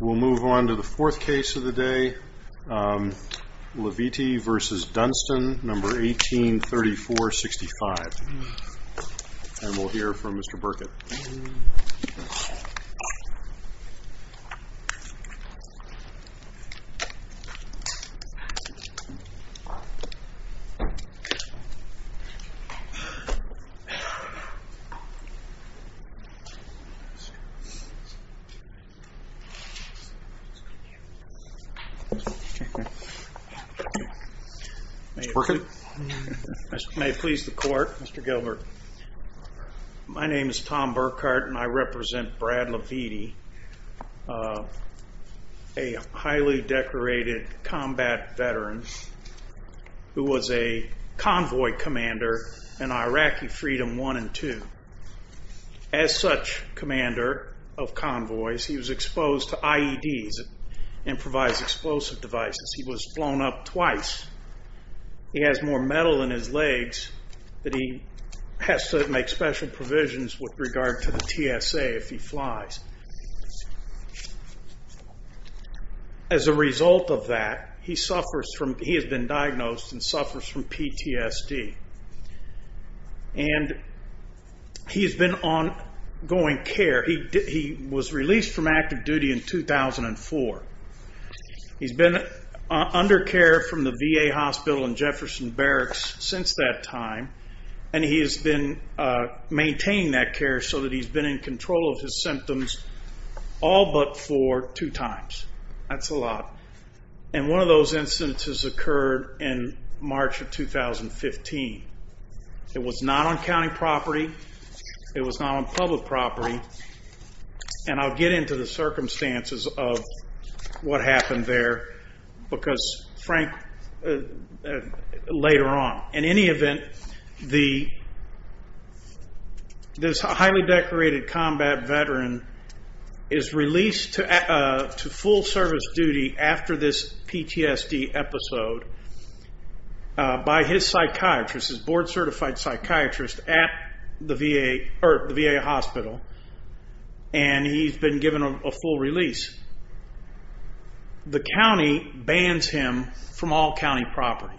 We'll move on to the fourth case of the day, Lavite v. Dunstan, 1834-65, and we'll hear from Mr. Burkett. Mr. Burkett. May it please the court, Mr. Gilbert. My name is Tom Burkart and I represent Brad Lavite, a highly decorated combat veteran who was a convoy commander in Iraqi Freedom 1 and 2. As such commander of convoys, he was exposed to IEDs, improvised explosive devices. He was blown up twice. He has more metal in his legs that he has to make special provisions with regard to the TSA if he flies. As a result of that, he has been diagnosed and suffers from PTSD. He has been on going care. He was released from active duty in 2004. He's been under care from the VA hospital in Jefferson Barracks since that time. He has been maintaining that care so that he's been in control of his symptoms all but for two times. That's a lot. One of those instances occurred in March of 2015. It was not on county property. It was not on public property. I'll get into the circumstances of what happened there later on. In any event, this highly decorated combat veteran is released to full service duty after this PTSD episode by his psychiatrist, his board certified psychiatrist at the VA hospital. He's been given a full release. The county bans him from all county property.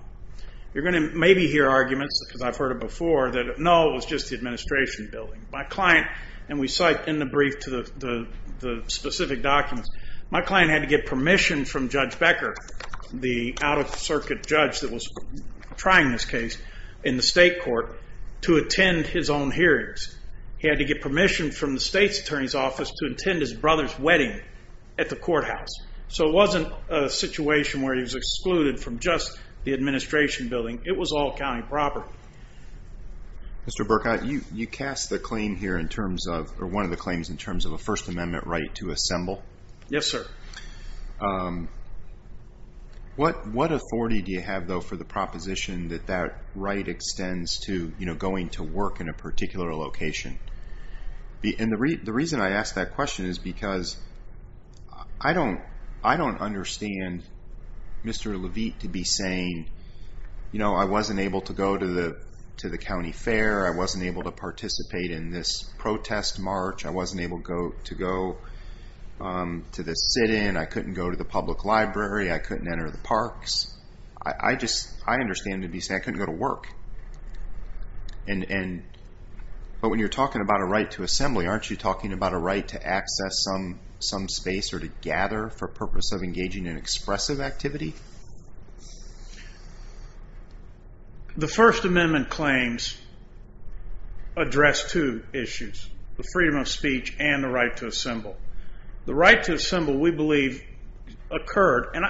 You're going to maybe hear arguments, because I've heard it before, that no, it was just the administration building. My client, and we cite in the brief to the specific documents, my client had to get permission from Judge Becker, the out-of-circuit judge that was trying this case in the state court, to attend his own hearings. He had to get permission from the state's attorney's office to attend his brother's wedding at the courthouse. So it wasn't a situation where he was excluded from just the administration building. It was all county property. Mr. Burkott, you cast the claim here in terms of, or one of the claims, in terms of a First Amendment right to assemble. Yes, sir. What authority do you have, though, for the proposition that that right extends to going to work in a particular location? And the reason I ask that question is because I don't understand Mr. Levitt to be saying, you know, I wasn't able to go to the county fair, I wasn't able to participate in this protest march, I wasn't able to go to the sit-in, I couldn't go to the public library, I couldn't enter the parks. I understand to be saying I couldn't go to work. But when you're talking about a right to assembly, aren't you talking about a right to access some space or to gather for purpose of engaging in expressive activity? The First Amendment claims address two issues, the freedom of speech and the right to assemble. The right to assemble, we believe, occurred, and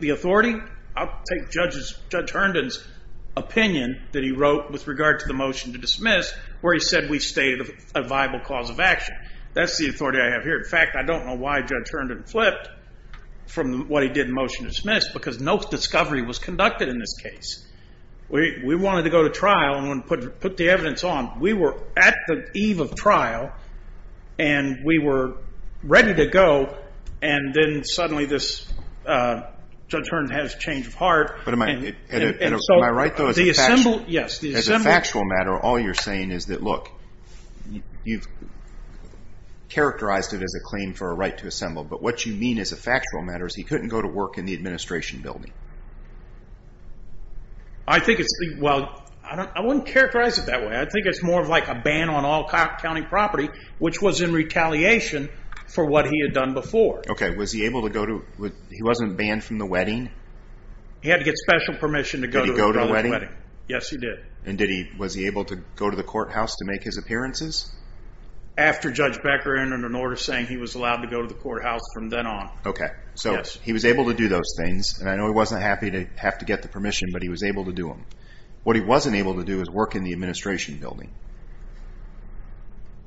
the authority? I'll take Judge Herndon's opinion that he wrote with regard to the motion to dismiss, where he said we stated a viable cause of action. That's the authority I have here. In fact, I don't know why Judge Herndon flipped from what he did in motion to dismiss, because no discovery was conducted in this case. We wanted to go to trial and put the evidence on. We were at the eve of trial, and we were ready to go, and then suddenly Judge Herndon has a change of heart. Am I right, though? Yes. As a factual matter, all you're saying is that, look, you've characterized it as a claim for a right to assemble, but what you mean as a factual matter is he couldn't go to work in the administration building. I think it's the—well, I wouldn't characterize it that way. I think it's more of like a ban on all county property, which was in retaliation for what he had done before. Okay, was he able to go to—he wasn't banned from the wedding? He had to get special permission to go to the brother's wedding. Did he go to the wedding? Yes, he did. And did he—was he able to go to the courthouse to make his appearances? After Judge Becker entered an order saying he was allowed to go to the courthouse from then on. Okay, so he was able to do those things, and I know he wasn't happy to have to get the permission, but he was able to do them. What he wasn't able to do was work in the administration building.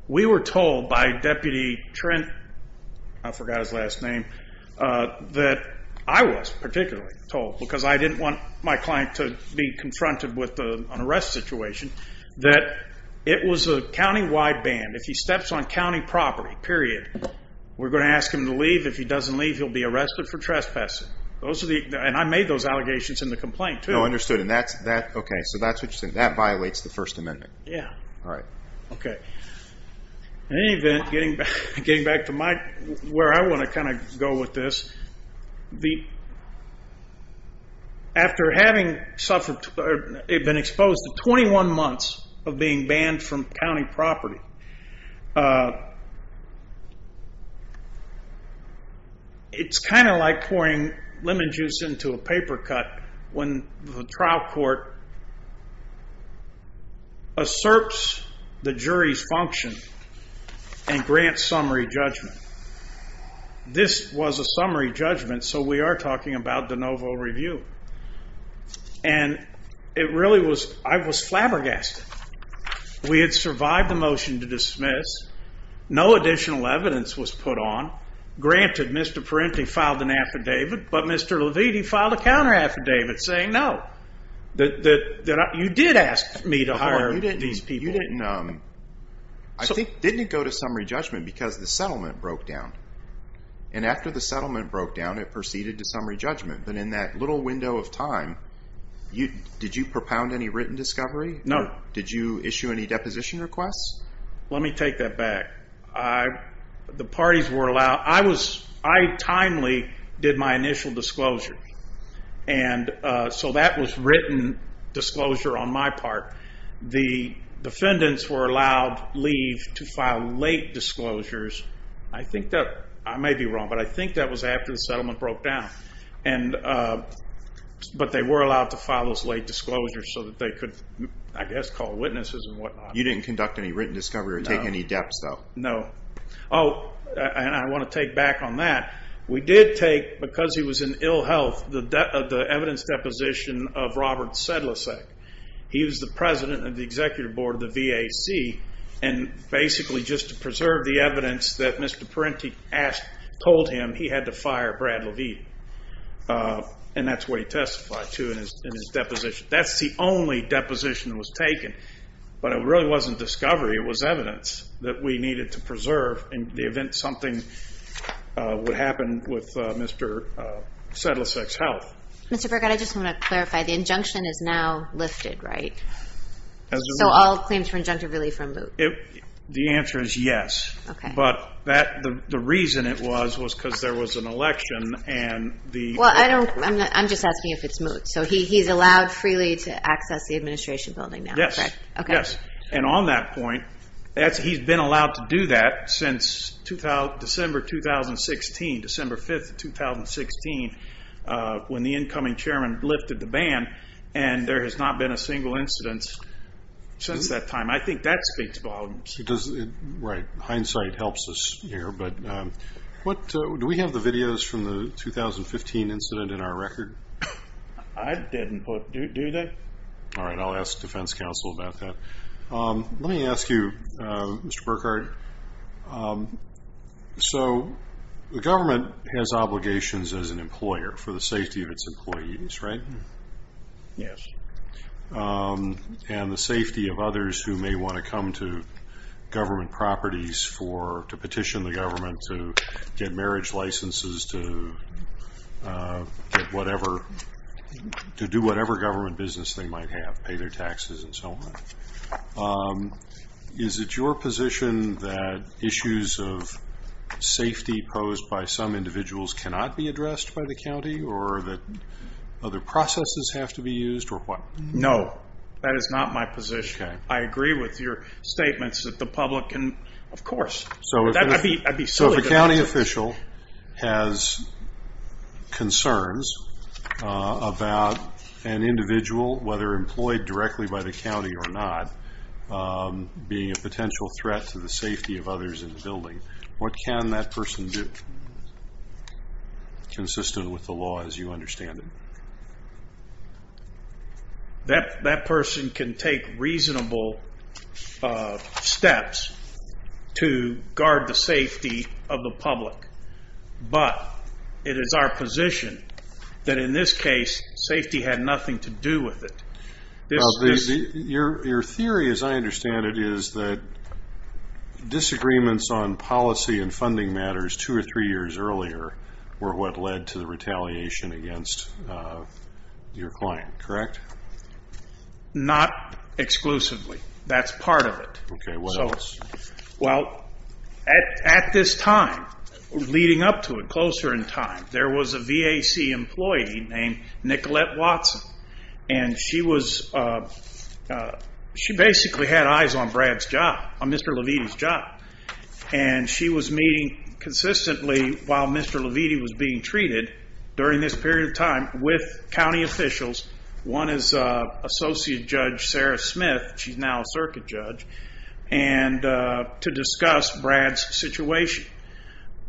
We were told by Deputy Trent—I forgot his last name—that I was particularly told, because I didn't want my client to be confronted with an arrest situation, that it was a county-wide ban. If he steps on county property, period, we're going to ask him to leave. If he doesn't leave, he'll be arrested for trespassing. And I made those allegations in the complaint, too. Oh, understood. Okay, so that's what you're saying. That violates the First Amendment. Yeah. All right. Okay. In any event, getting back to where I want to kind of go with this, after having been exposed to 21 months of being banned from county property, it's kind of like pouring lemon juice into a paper cut when the trial court asserts the jury's function and grants summary judgment. This was a summary judgment, so we are talking about de novo review. And it really was—I was flabbergasted. We had survived the motion to dismiss. No additional evidence was put on. Granted, Mr. Perenti filed an affidavit, but Mr. Leviti filed a counter-affidavit saying no, that you did ask me to hire these people. I think, didn't it go to summary judgment because the settlement broke down? And after the settlement broke down, it proceeded to summary judgment. But in that little window of time, did you propound any written discovery? No. Did you issue any deposition requests? Let me take that back. The parties were allowed—I timely did my initial disclosure. And so that was written disclosure on my part. The defendants were allowed leave to file late disclosures. I may be wrong, but I think that was after the settlement broke down. But they were allowed to file those late disclosures so that they could, I guess, call witnesses and whatnot. You didn't conduct any written discovery or take any debts, though? No. Oh, and I want to take back on that. We did take, because he was in ill health, the evidence deposition of Robert Sedlicek. He was the president of the executive board of the VAC, and basically just to preserve the evidence that Mr. Parenti told him, he had to fire Brad Levine. And that's what he testified to in his deposition. That's the only deposition that was taken. But it really wasn't discovery. It was evidence that we needed to preserve in the event something would happen with Mr. Sedlicek's health. Mr. Burkett, I just want to clarify, the injunction is now lifted, right? So all claims for injunctive relief are moot? The answer is yes. But the reason it was was because there was an election and the ---- Well, I'm just asking if it's moot. So he's allowed freely to access the administration building now, correct? Yes, yes. And on that point, he's been allowed to do that since December 2016, December 5th of 2016, when the incoming chairman lifted the ban, and there has not been a single incident since that time. I think that speaks volumes. Right. Hindsight helps us here. But do we have the videos from the 2015 incident in our record? I didn't put. Do they? All right. I'll ask defense counsel about that. Let me ask you, Mr. Burkard. So the government has obligations as an employer for the safety of its employees, right? Yes. And the safety of others who may want to come to government properties to petition the government to get marriage licenses to do whatever government business they might have, pay their taxes and so on. Is it your position that issues of safety posed by some individuals cannot be addressed by the county or that other processes have to be used or what? No. That is not my position. Okay. I agree with your statements that the public can, of course. So if a county official has concerns about an individual, whether employed directly by the county or not, being a potential threat to the safety of others in the building, what can that person do? Consistent with the law as you understand it. That person can take reasonable steps to guard the safety of the public, but it is our position that in this case safety had nothing to do with it. Your theory as I understand it is that disagreements on policy and funding matters two or three years earlier were what led to the retaliation against your client, correct? Not exclusively. That's part of it. Okay. What else? Well, at this time, leading up to it, closer in time, there was a VAC employee named Nicolette Watson, and she basically had eyes on Brad's job, on Mr. Levine's job. And she was meeting consistently while Mr. Levine was being treated during this period of time with county officials, one is Associate Judge Sarah Smith, she's now a circuit judge, to discuss Brad's situation.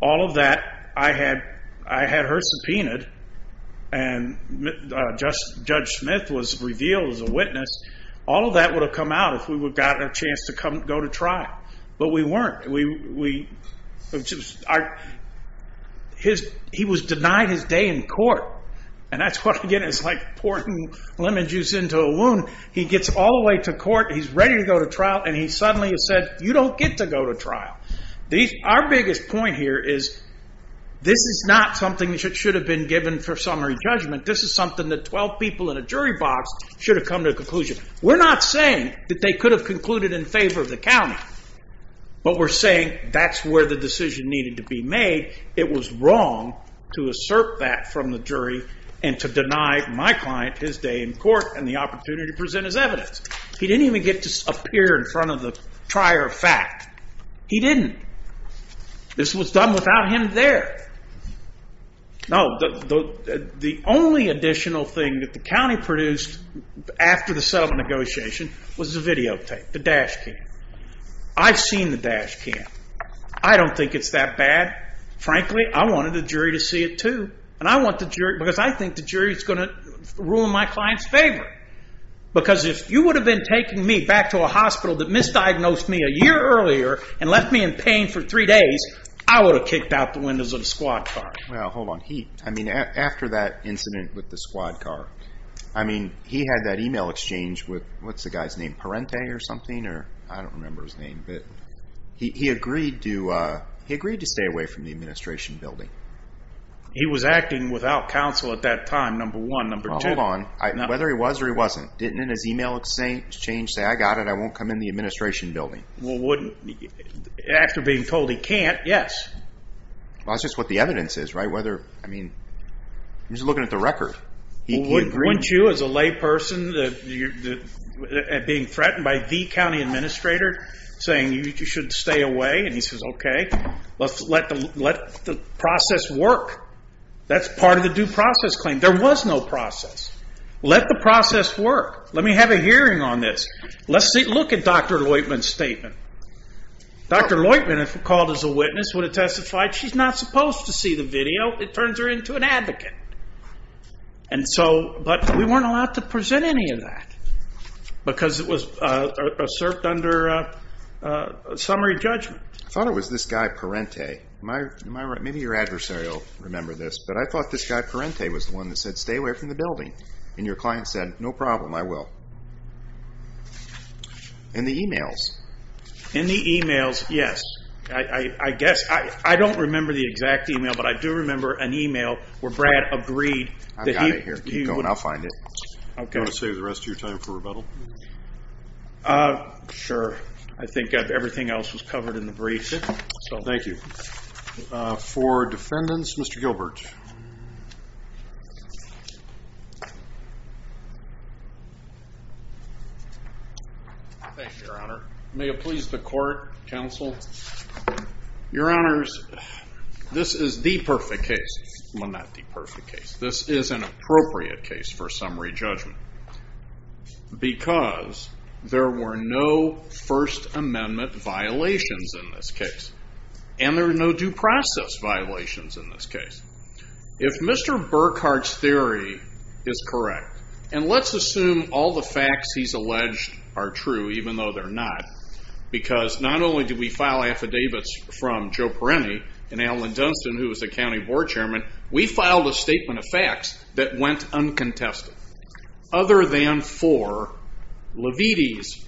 All of that, I had her subpoenaed, and Judge Smith was revealed as a witness. All of that would have come out if we had gotten a chance to go to trial. But we weren't. He was denied his day in court, and that's what, again, it's like pouring lemon juice into a wound. He gets all the way to court, he's ready to go to trial, and he suddenly is said, you don't get to go to trial. Our biggest point here is this is not something that should have been given for summary judgment. This is something that 12 people in a jury box should have come to a conclusion. We're not saying that they could have concluded in favor of the county, but we're saying that's where the decision needed to be made. It was wrong to assert that from the jury and to deny my client his day in court and the opportunity to present his evidence. He didn't even get to appear in front of the trier of fact. He didn't. This was done without him there. No, the only additional thing that the county produced after the settlement negotiation was the videotape, the dash cam. I've seen the dash cam. I don't think it's that bad. Frankly, I wanted the jury to see it, too, because I think the jury is going to ruin my client's favor. Because if you would have been taking me back to a hospital that misdiagnosed me a year earlier and left me in pain for three days, I would have kicked out the windows of the squad car. Well, hold on. I mean, after that incident with the squad car, I mean, he had that email exchange with, what's the guy's name, Parente or something? I don't remember his name, but he agreed to stay away from the administration building. He was acting without counsel at that time, number one. Number two. Well, hold on. Whether he was or he wasn't, didn't his email exchange say, I got it, I won't come in the administration building? Well, wouldn't, after being told he can't, yes. Well, that's just what the evidence is, right? Whether, I mean, I'm just looking at the record. Wouldn't you, as a layperson, being threatened by the county administrator, saying you should stay away? And he says, okay, let the process work. That's part of the due process claim. There was no process. Let the process work. Let me have a hearing on this. Let's look at Dr. Loitman's statement. Dr. Loitman, if called as a witness, would have testified she's not supposed to see the video. It turns her into an advocate. And so, but we weren't allowed to present any of that because it was asserted under summary judgment. I thought it was this guy, Parente. Am I right? Maybe your adversary will remember this, but I thought this guy, Parente, was the one that said stay away from the building. And your client said, no problem, I will. In the e-mails. In the e-mails, yes. I guess. I don't remember the exact e-mail, but I do remember an e-mail where Brad agreed. I've got it here. Keep going. I'll find it. Do you want to save the rest of your time for rebuttal? Sure. I think everything else was covered in the brief. Thank you. For defendants, Mr. Gilbert. Thank you, Your Honor. May it please the court, counsel. Your Honors, this is the perfect case. Well, not the perfect case. This is an appropriate case for summary judgment. Because there were no First Amendment violations in this case. And there were no due process violations in this case. If Mr. Burkhardt's theory is correct, and let's assume all the facts he's alleged are true, even though they're not. Because not only did we file affidavits from Joe Parente and Alan Dunstan, who was the county board chairman, we filed a statement of facts that went uncontested. Other than for Leviti's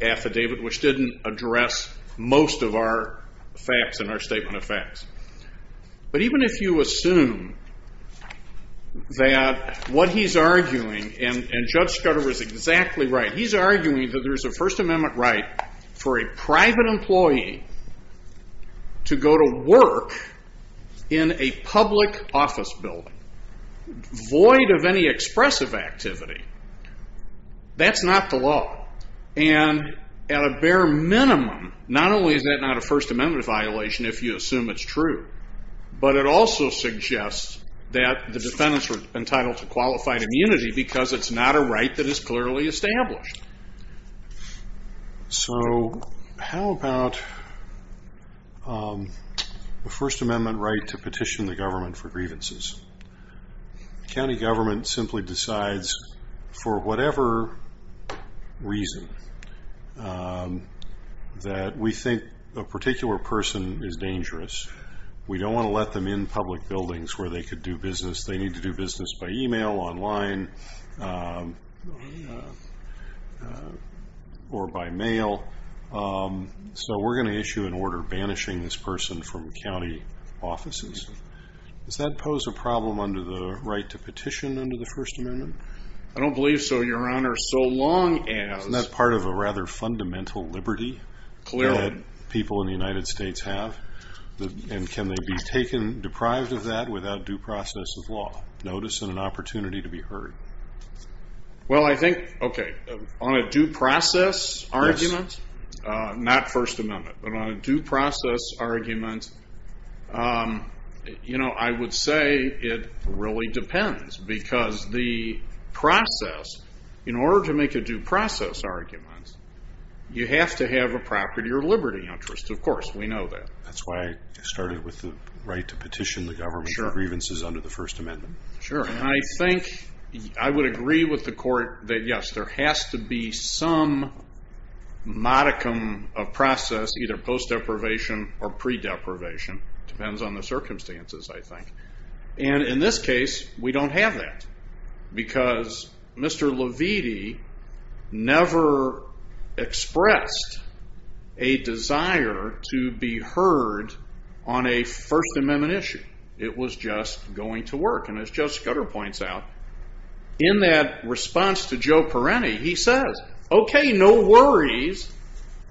affidavit, which didn't address most of our facts in our statement of facts. But even if you assume that what he's arguing, and Judge Scudder is exactly right, he's arguing that there's a First Amendment right for a private employee to go to work in a public office building, void of any expressive activity. That's not the law. And at a bare minimum, not only is that not a First Amendment violation if you assume it's true, but it also suggests that the defendants were entitled to qualified immunity because it's not a right that is clearly established. So how about the First Amendment right to petition the government for grievances? The county government simply decides for whatever reason that we think a particular person is dangerous. We don't want to let them in public buildings where they could do business. They need to do business by email, online, or by mail. So we're going to issue an order banishing this person from county offices. Does that pose a problem under the right to petition under the First Amendment? I don't believe so, Your Honor, so long as. Isn't that part of a rather fundamental liberty that people in the United States have? And can they be taken deprived of that without due process of law, notice, and an opportunity to be heard? Well, I think, okay, on a due process argument, not First Amendment, but on a due process argument, I would say it really depends because the process, in order to make a due process argument, you have to have a property or liberty interest. Of course, we know that. That's why I started with the right to petition the government for grievances under the First Amendment. Sure, and I think I would agree with the court that, yes, there has to be some modicum of process, either post-deprivation or pre-deprivation. It depends on the circumstances, I think. And in this case, we don't have that because Mr. Leviti never expressed a desire to be heard on a First Amendment issue. It was just going to work. And as Joe Scudder points out, in that response to Joe Perrini, he says, okay, no worries,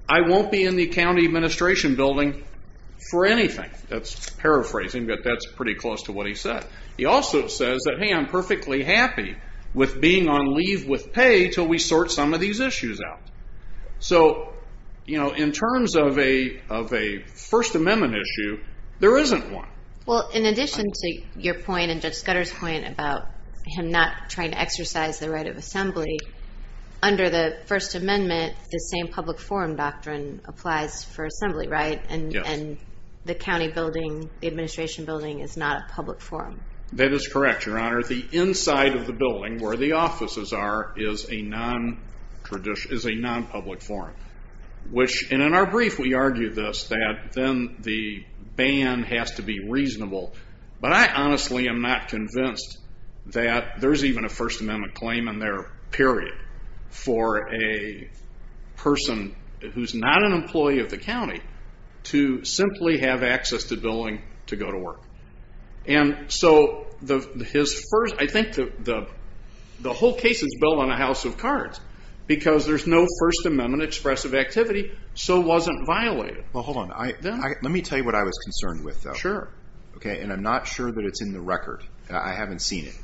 I won't be in the county administration building for anything. That's paraphrasing, but that's pretty close to what he said. He also says that, hey, I'm perfectly happy with being on leave with pay until we sort some of these issues out. So in terms of a First Amendment issue, there isn't one. Well, in addition to your point and Judge Scudder's point about him not trying to exercise the right of assembly, under the First Amendment, the same public forum doctrine applies for assembly, right? Yes. And the county building, the administration building is not a public forum. That is correct, Your Honor. The inside of the building where the offices are is a non-public forum. And in our brief, we argue this, that then the ban has to be reasonable. But I honestly am not convinced that there's even a First Amendment claim in there, period, for a person who's not an employee of the county to simply have access to billing to go to work. And so I think the whole case is built on a house of cards, because there's no First Amendment expressive activity, so it wasn't violated. Well, hold on. Let me tell you what I was concerned with, though. Sure. Okay, and I'm not sure that it's in the record. I haven't seen it.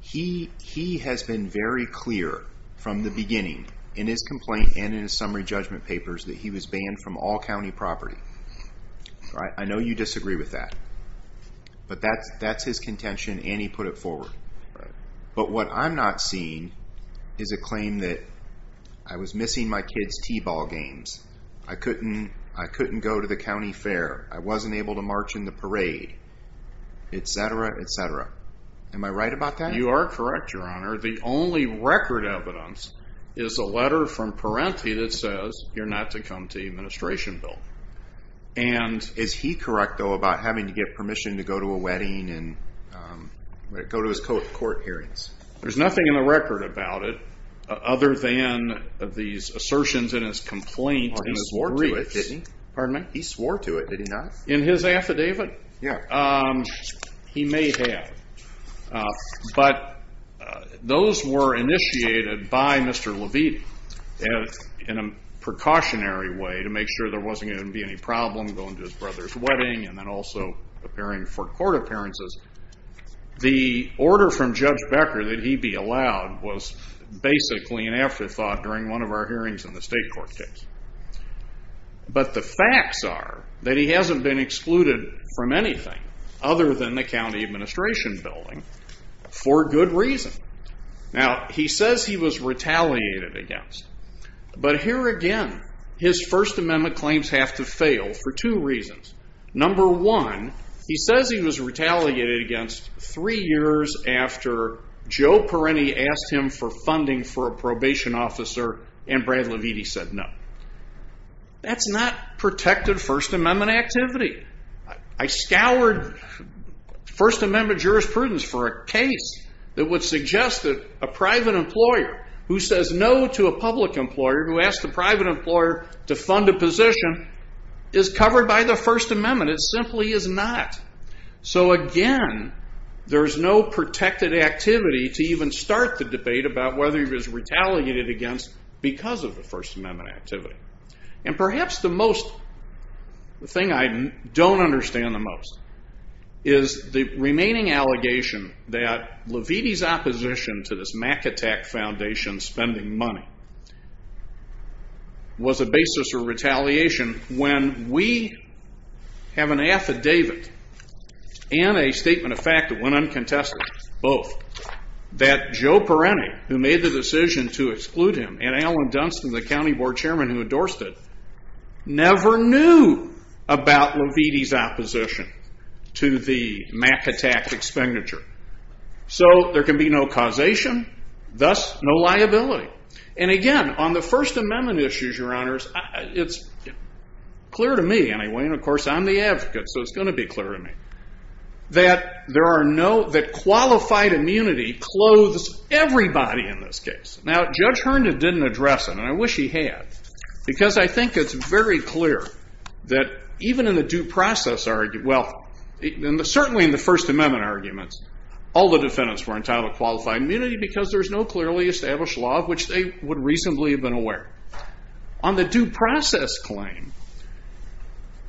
He has been very clear from the beginning, in his complaint and in his summary judgment papers, that he was banned from all county property. I know you disagree with that. But that's his contention, and he put it forward. But what I'm not seeing is a claim that I was missing my kids' t-ball games, I couldn't go to the county fair, I wasn't able to march in the parade, et cetera, et cetera. Am I right about that? You are correct, Your Honor. The only record evidence is a letter from Parenti that says you're not to come to the administration bill. And is he correct, though, about having to get permission to go to a wedding and go to his court hearings? There's nothing in the record about it other than these assertions in his complaint and his briefs. He swore to it, didn't he? Pardon me? He swore to it. Did he not? In his affidavit? Yeah. He may have. But those were initiated by Mr. Levite in a precautionary way to make sure there wasn't going to be any problem going to his brother's wedding and then also appearing for court appearances. The order from Judge Becker that he be allowed was basically an afterthought during one of our hearings in the state court case. But the facts are that he hasn't been excluded from anything other than the county administration building for good reason. Now, he says he was retaliated against. But here again, his First Amendment claims have to fail for two reasons. Number one, he says he was retaliated against three years after Joe Perrini asked him for funding for a probation officer and Brad Levite said no. That's not protected First Amendment activity. I scoured First Amendment jurisprudence for a case that would suggest that a private employer who says no to a public employer who asks the private employer to fund a position is covered by the First Amendment. It simply is not. So again, there is no protected activity to even start the debate about whether he was retaliated against because of the First Amendment activity. And perhaps the most thing I don't understand the most is the remaining allegation that Levite's opposition to this was a basis for retaliation when we have an affidavit and a statement of fact that went uncontested, both, that Joe Perrini, who made the decision to exclude him, and Alan Dunston, the county board chairman who endorsed it, never knew about Levite's opposition to the MAC attack expenditure. So there can be no causation, thus no liability. And again, on the First Amendment issues, Your Honors, it's clear to me anyway, and of course I'm the advocate, so it's going to be clear to me, that qualified immunity clothes everybody in this case. Now, Judge Herndon didn't address it, and I wish he had, because I think it's very clear that even in the due process, well, certainly in the First Amendment arguments, all the defendants were entitled to qualified immunity because there's no clearly established law of which they would reasonably have been aware. On the due process claim,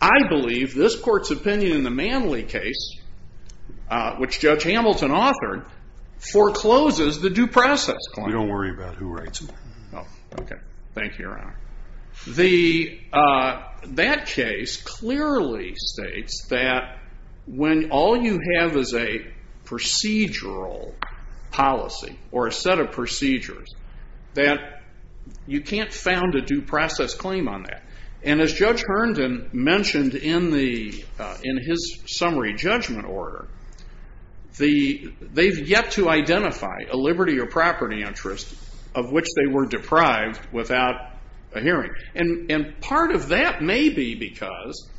I believe this court's opinion in the Manley case, which Judge Hamilton authored, forecloses the due process claim. We don't worry about who writes them. That case clearly states that when all you have is a procedural policy, or a set of procedures, that you can't found a due process claim on that. And as Judge Herndon mentioned in his summary judgment order, they've yet to identify a liberty or property interest of which they were deprived without a hearing. And part of that may be because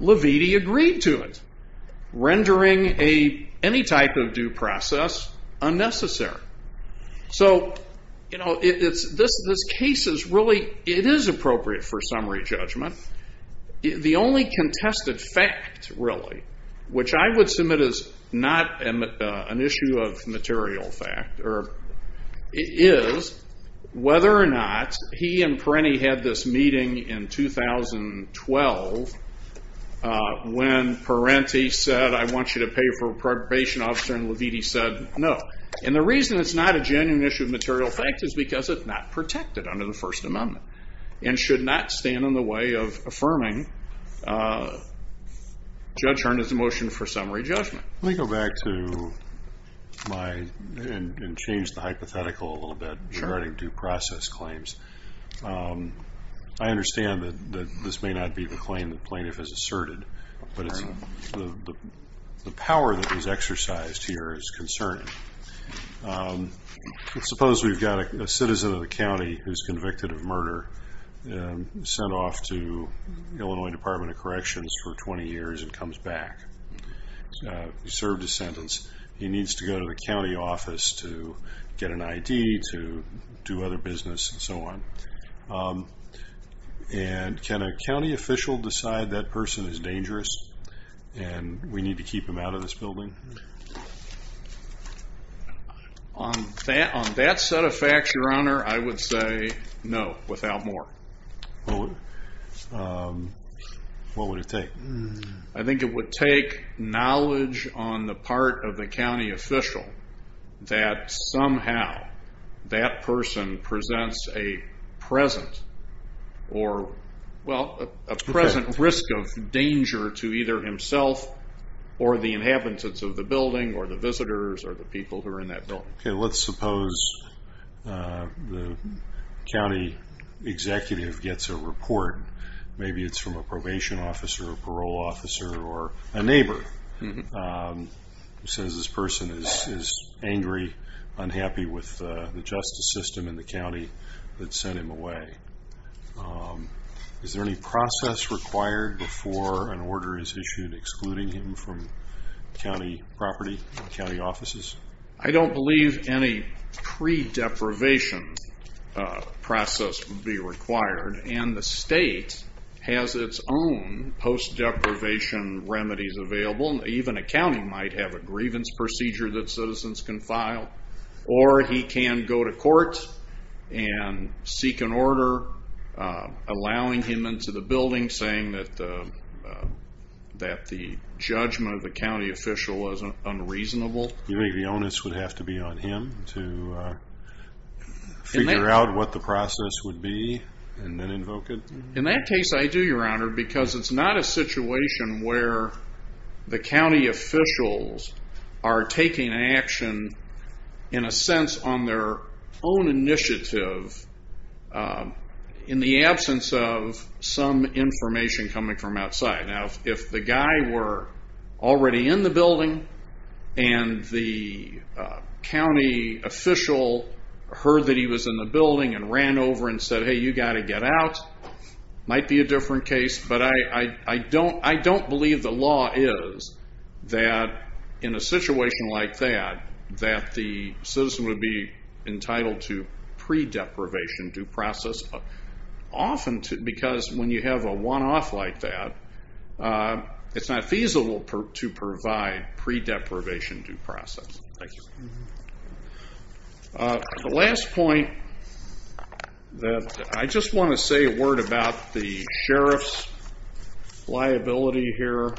Leviti agreed to it, rendering any type of due process unnecessary. So, you know, this case is really, it is appropriate for summary judgment. The only contested fact, really, which I would submit is not an issue of material fact, is whether or not he and Parenti had this meeting in 2012 when Parenti said, I want you to pay for a probation officer, and Leviti said no. And the reason it's not a genuine issue of material fact is because it's not protected under the First Amendment and should not stand in the way of affirming Judge Herndon's motion for summary judgment. Let me go back to my, and change the hypothetical a little bit regarding due process claims. I understand that this may not be the claim the plaintiff has asserted, but the power that is exercised here is concerning. Let's suppose we've got a citizen of the county who's convicted of murder, sent off to Illinois Department of Corrections for 20 years and comes back. He served his sentence. He needs to go to the county office to get an ID, to do other business, and so on. And can a county official decide that person is dangerous and we need to keep him out of this building? On that set of facts, Your Honor, I would say no, without more. What would it take? I think it would take knowledge on the part of the county official that somehow that person presents a present or, well, a present risk of danger to either himself or the inhabitants of the building or the visitors or the people who are in that building. Okay, let's suppose the county executive gets a report. Maybe it's from a probation officer or parole officer or a neighbor who says this person is angry, unhappy with the justice system in the county that sent him away. Is there any process required before an order is issued excluding him from county property, county offices? I don't believe any pre-deprivation process would be required, and the state has its own post-deprivation remedies available. Even a county might have a grievance procedure that citizens can file, or he can go to court and seek an order allowing him into the building, saying that the judgment of the county official was unreasonable. You think the onus would have to be on him to figure out what the process would be and then invoke it? In that case, I do, Your Honor, because it's not a situation where the county officials are taking action in a sense on their own initiative in the absence of some information coming from outside. Now, if the guy were already in the building and ran over and said, hey, you've got to get out, it might be a different case. But I don't believe the law is that in a situation like that, that the citizen would be entitled to pre-deprivation due process, often because when you have a one-off like that, it's not feasible to provide pre-deprivation due process. Thank you. The last point that I just want to say a word about the sheriff's liability here.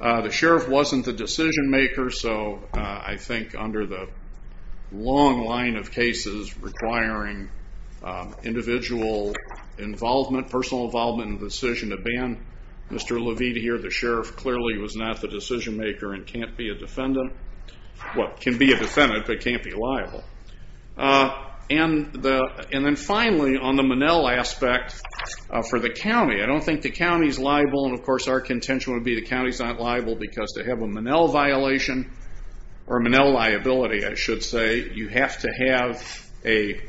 The sheriff wasn't the decision-maker, so I think under the long line of cases requiring individual involvement, personal involvement in the decision to ban Mr. Levide here, the sheriff clearly was not the decision-maker and can't be a defendant. Well, can be a defendant, but can't be liable. And then finally, on the Monell aspect for the county, I don't think the county is liable, and of course our contention would be the county is not liable because to have a Monell violation or Monell liability, I should say, you have to have a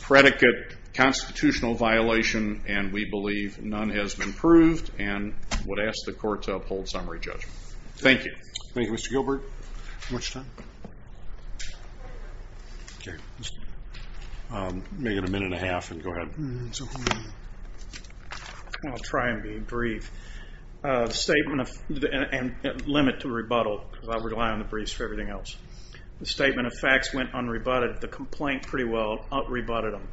predicate constitutional violation, and we believe none has been proved and would ask the court to uphold summary judgment. Thank you. Thank you, Mr. Gilbert. How much time? Okay, let's make it a minute and a half and go ahead. I'll try and be brief. Statement and limit to rebuttal because I rely on the briefs for everything else. The statement of facts went unrebutted. The complaint pretty well rebutted them.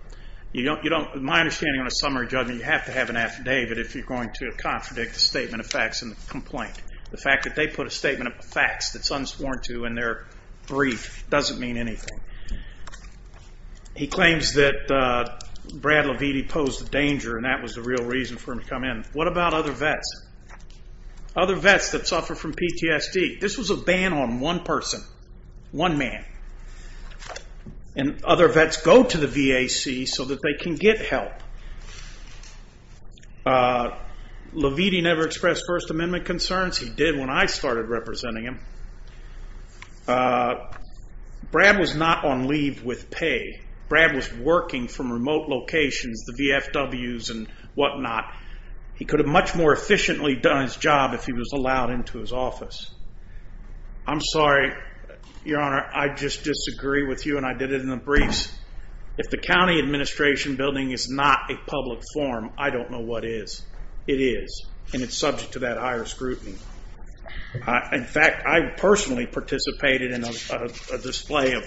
My understanding on a summary judgment, you have to have an affidavit if you're going to contradict the statement of facts and the complaint. The fact that they put a statement of facts that's unsworn to in their brief doesn't mean anything. He claims that Brad Leviti posed a danger, and that was the real reason for him to come in. What about other vets, other vets that suffer from PTSD? This was a ban on one person, one man, and other vets go to the VAC so that they can get help. Leviti never expressed First Amendment concerns. He did when I started representing him. Brad was not on leave with pay. Brad was working from remote locations, the VFWs and whatnot. He could have much more efficiently done his job if he was allowed into his office. I'm sorry, Your Honor, I just disagree with you, and I did it in the briefs. If the county administration building is not a public forum, I don't know what is. It is, and it's subject to that higher scrutiny. In fact, I personally participated in a display of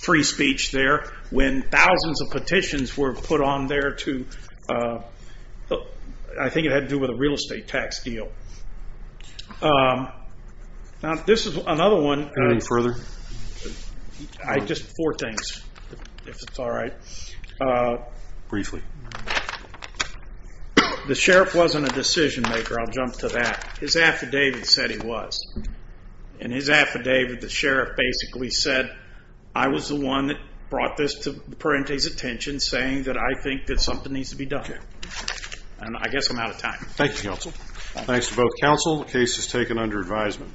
free speech there when thousands of petitions were put on there to, I think it had to do with a real estate tax deal. Now, this is another one. Anything further? Just four things, if it's all right. Briefly. The sheriff wasn't a decision maker. I'll jump to that. His affidavit said he was. In his affidavit, the sheriff basically said, I was the one that brought this to Parente's attention saying that I think that something needs to be done. And I guess I'm out of time. Thank you, counsel. Thanks to both counsel. The case is taken under advisement.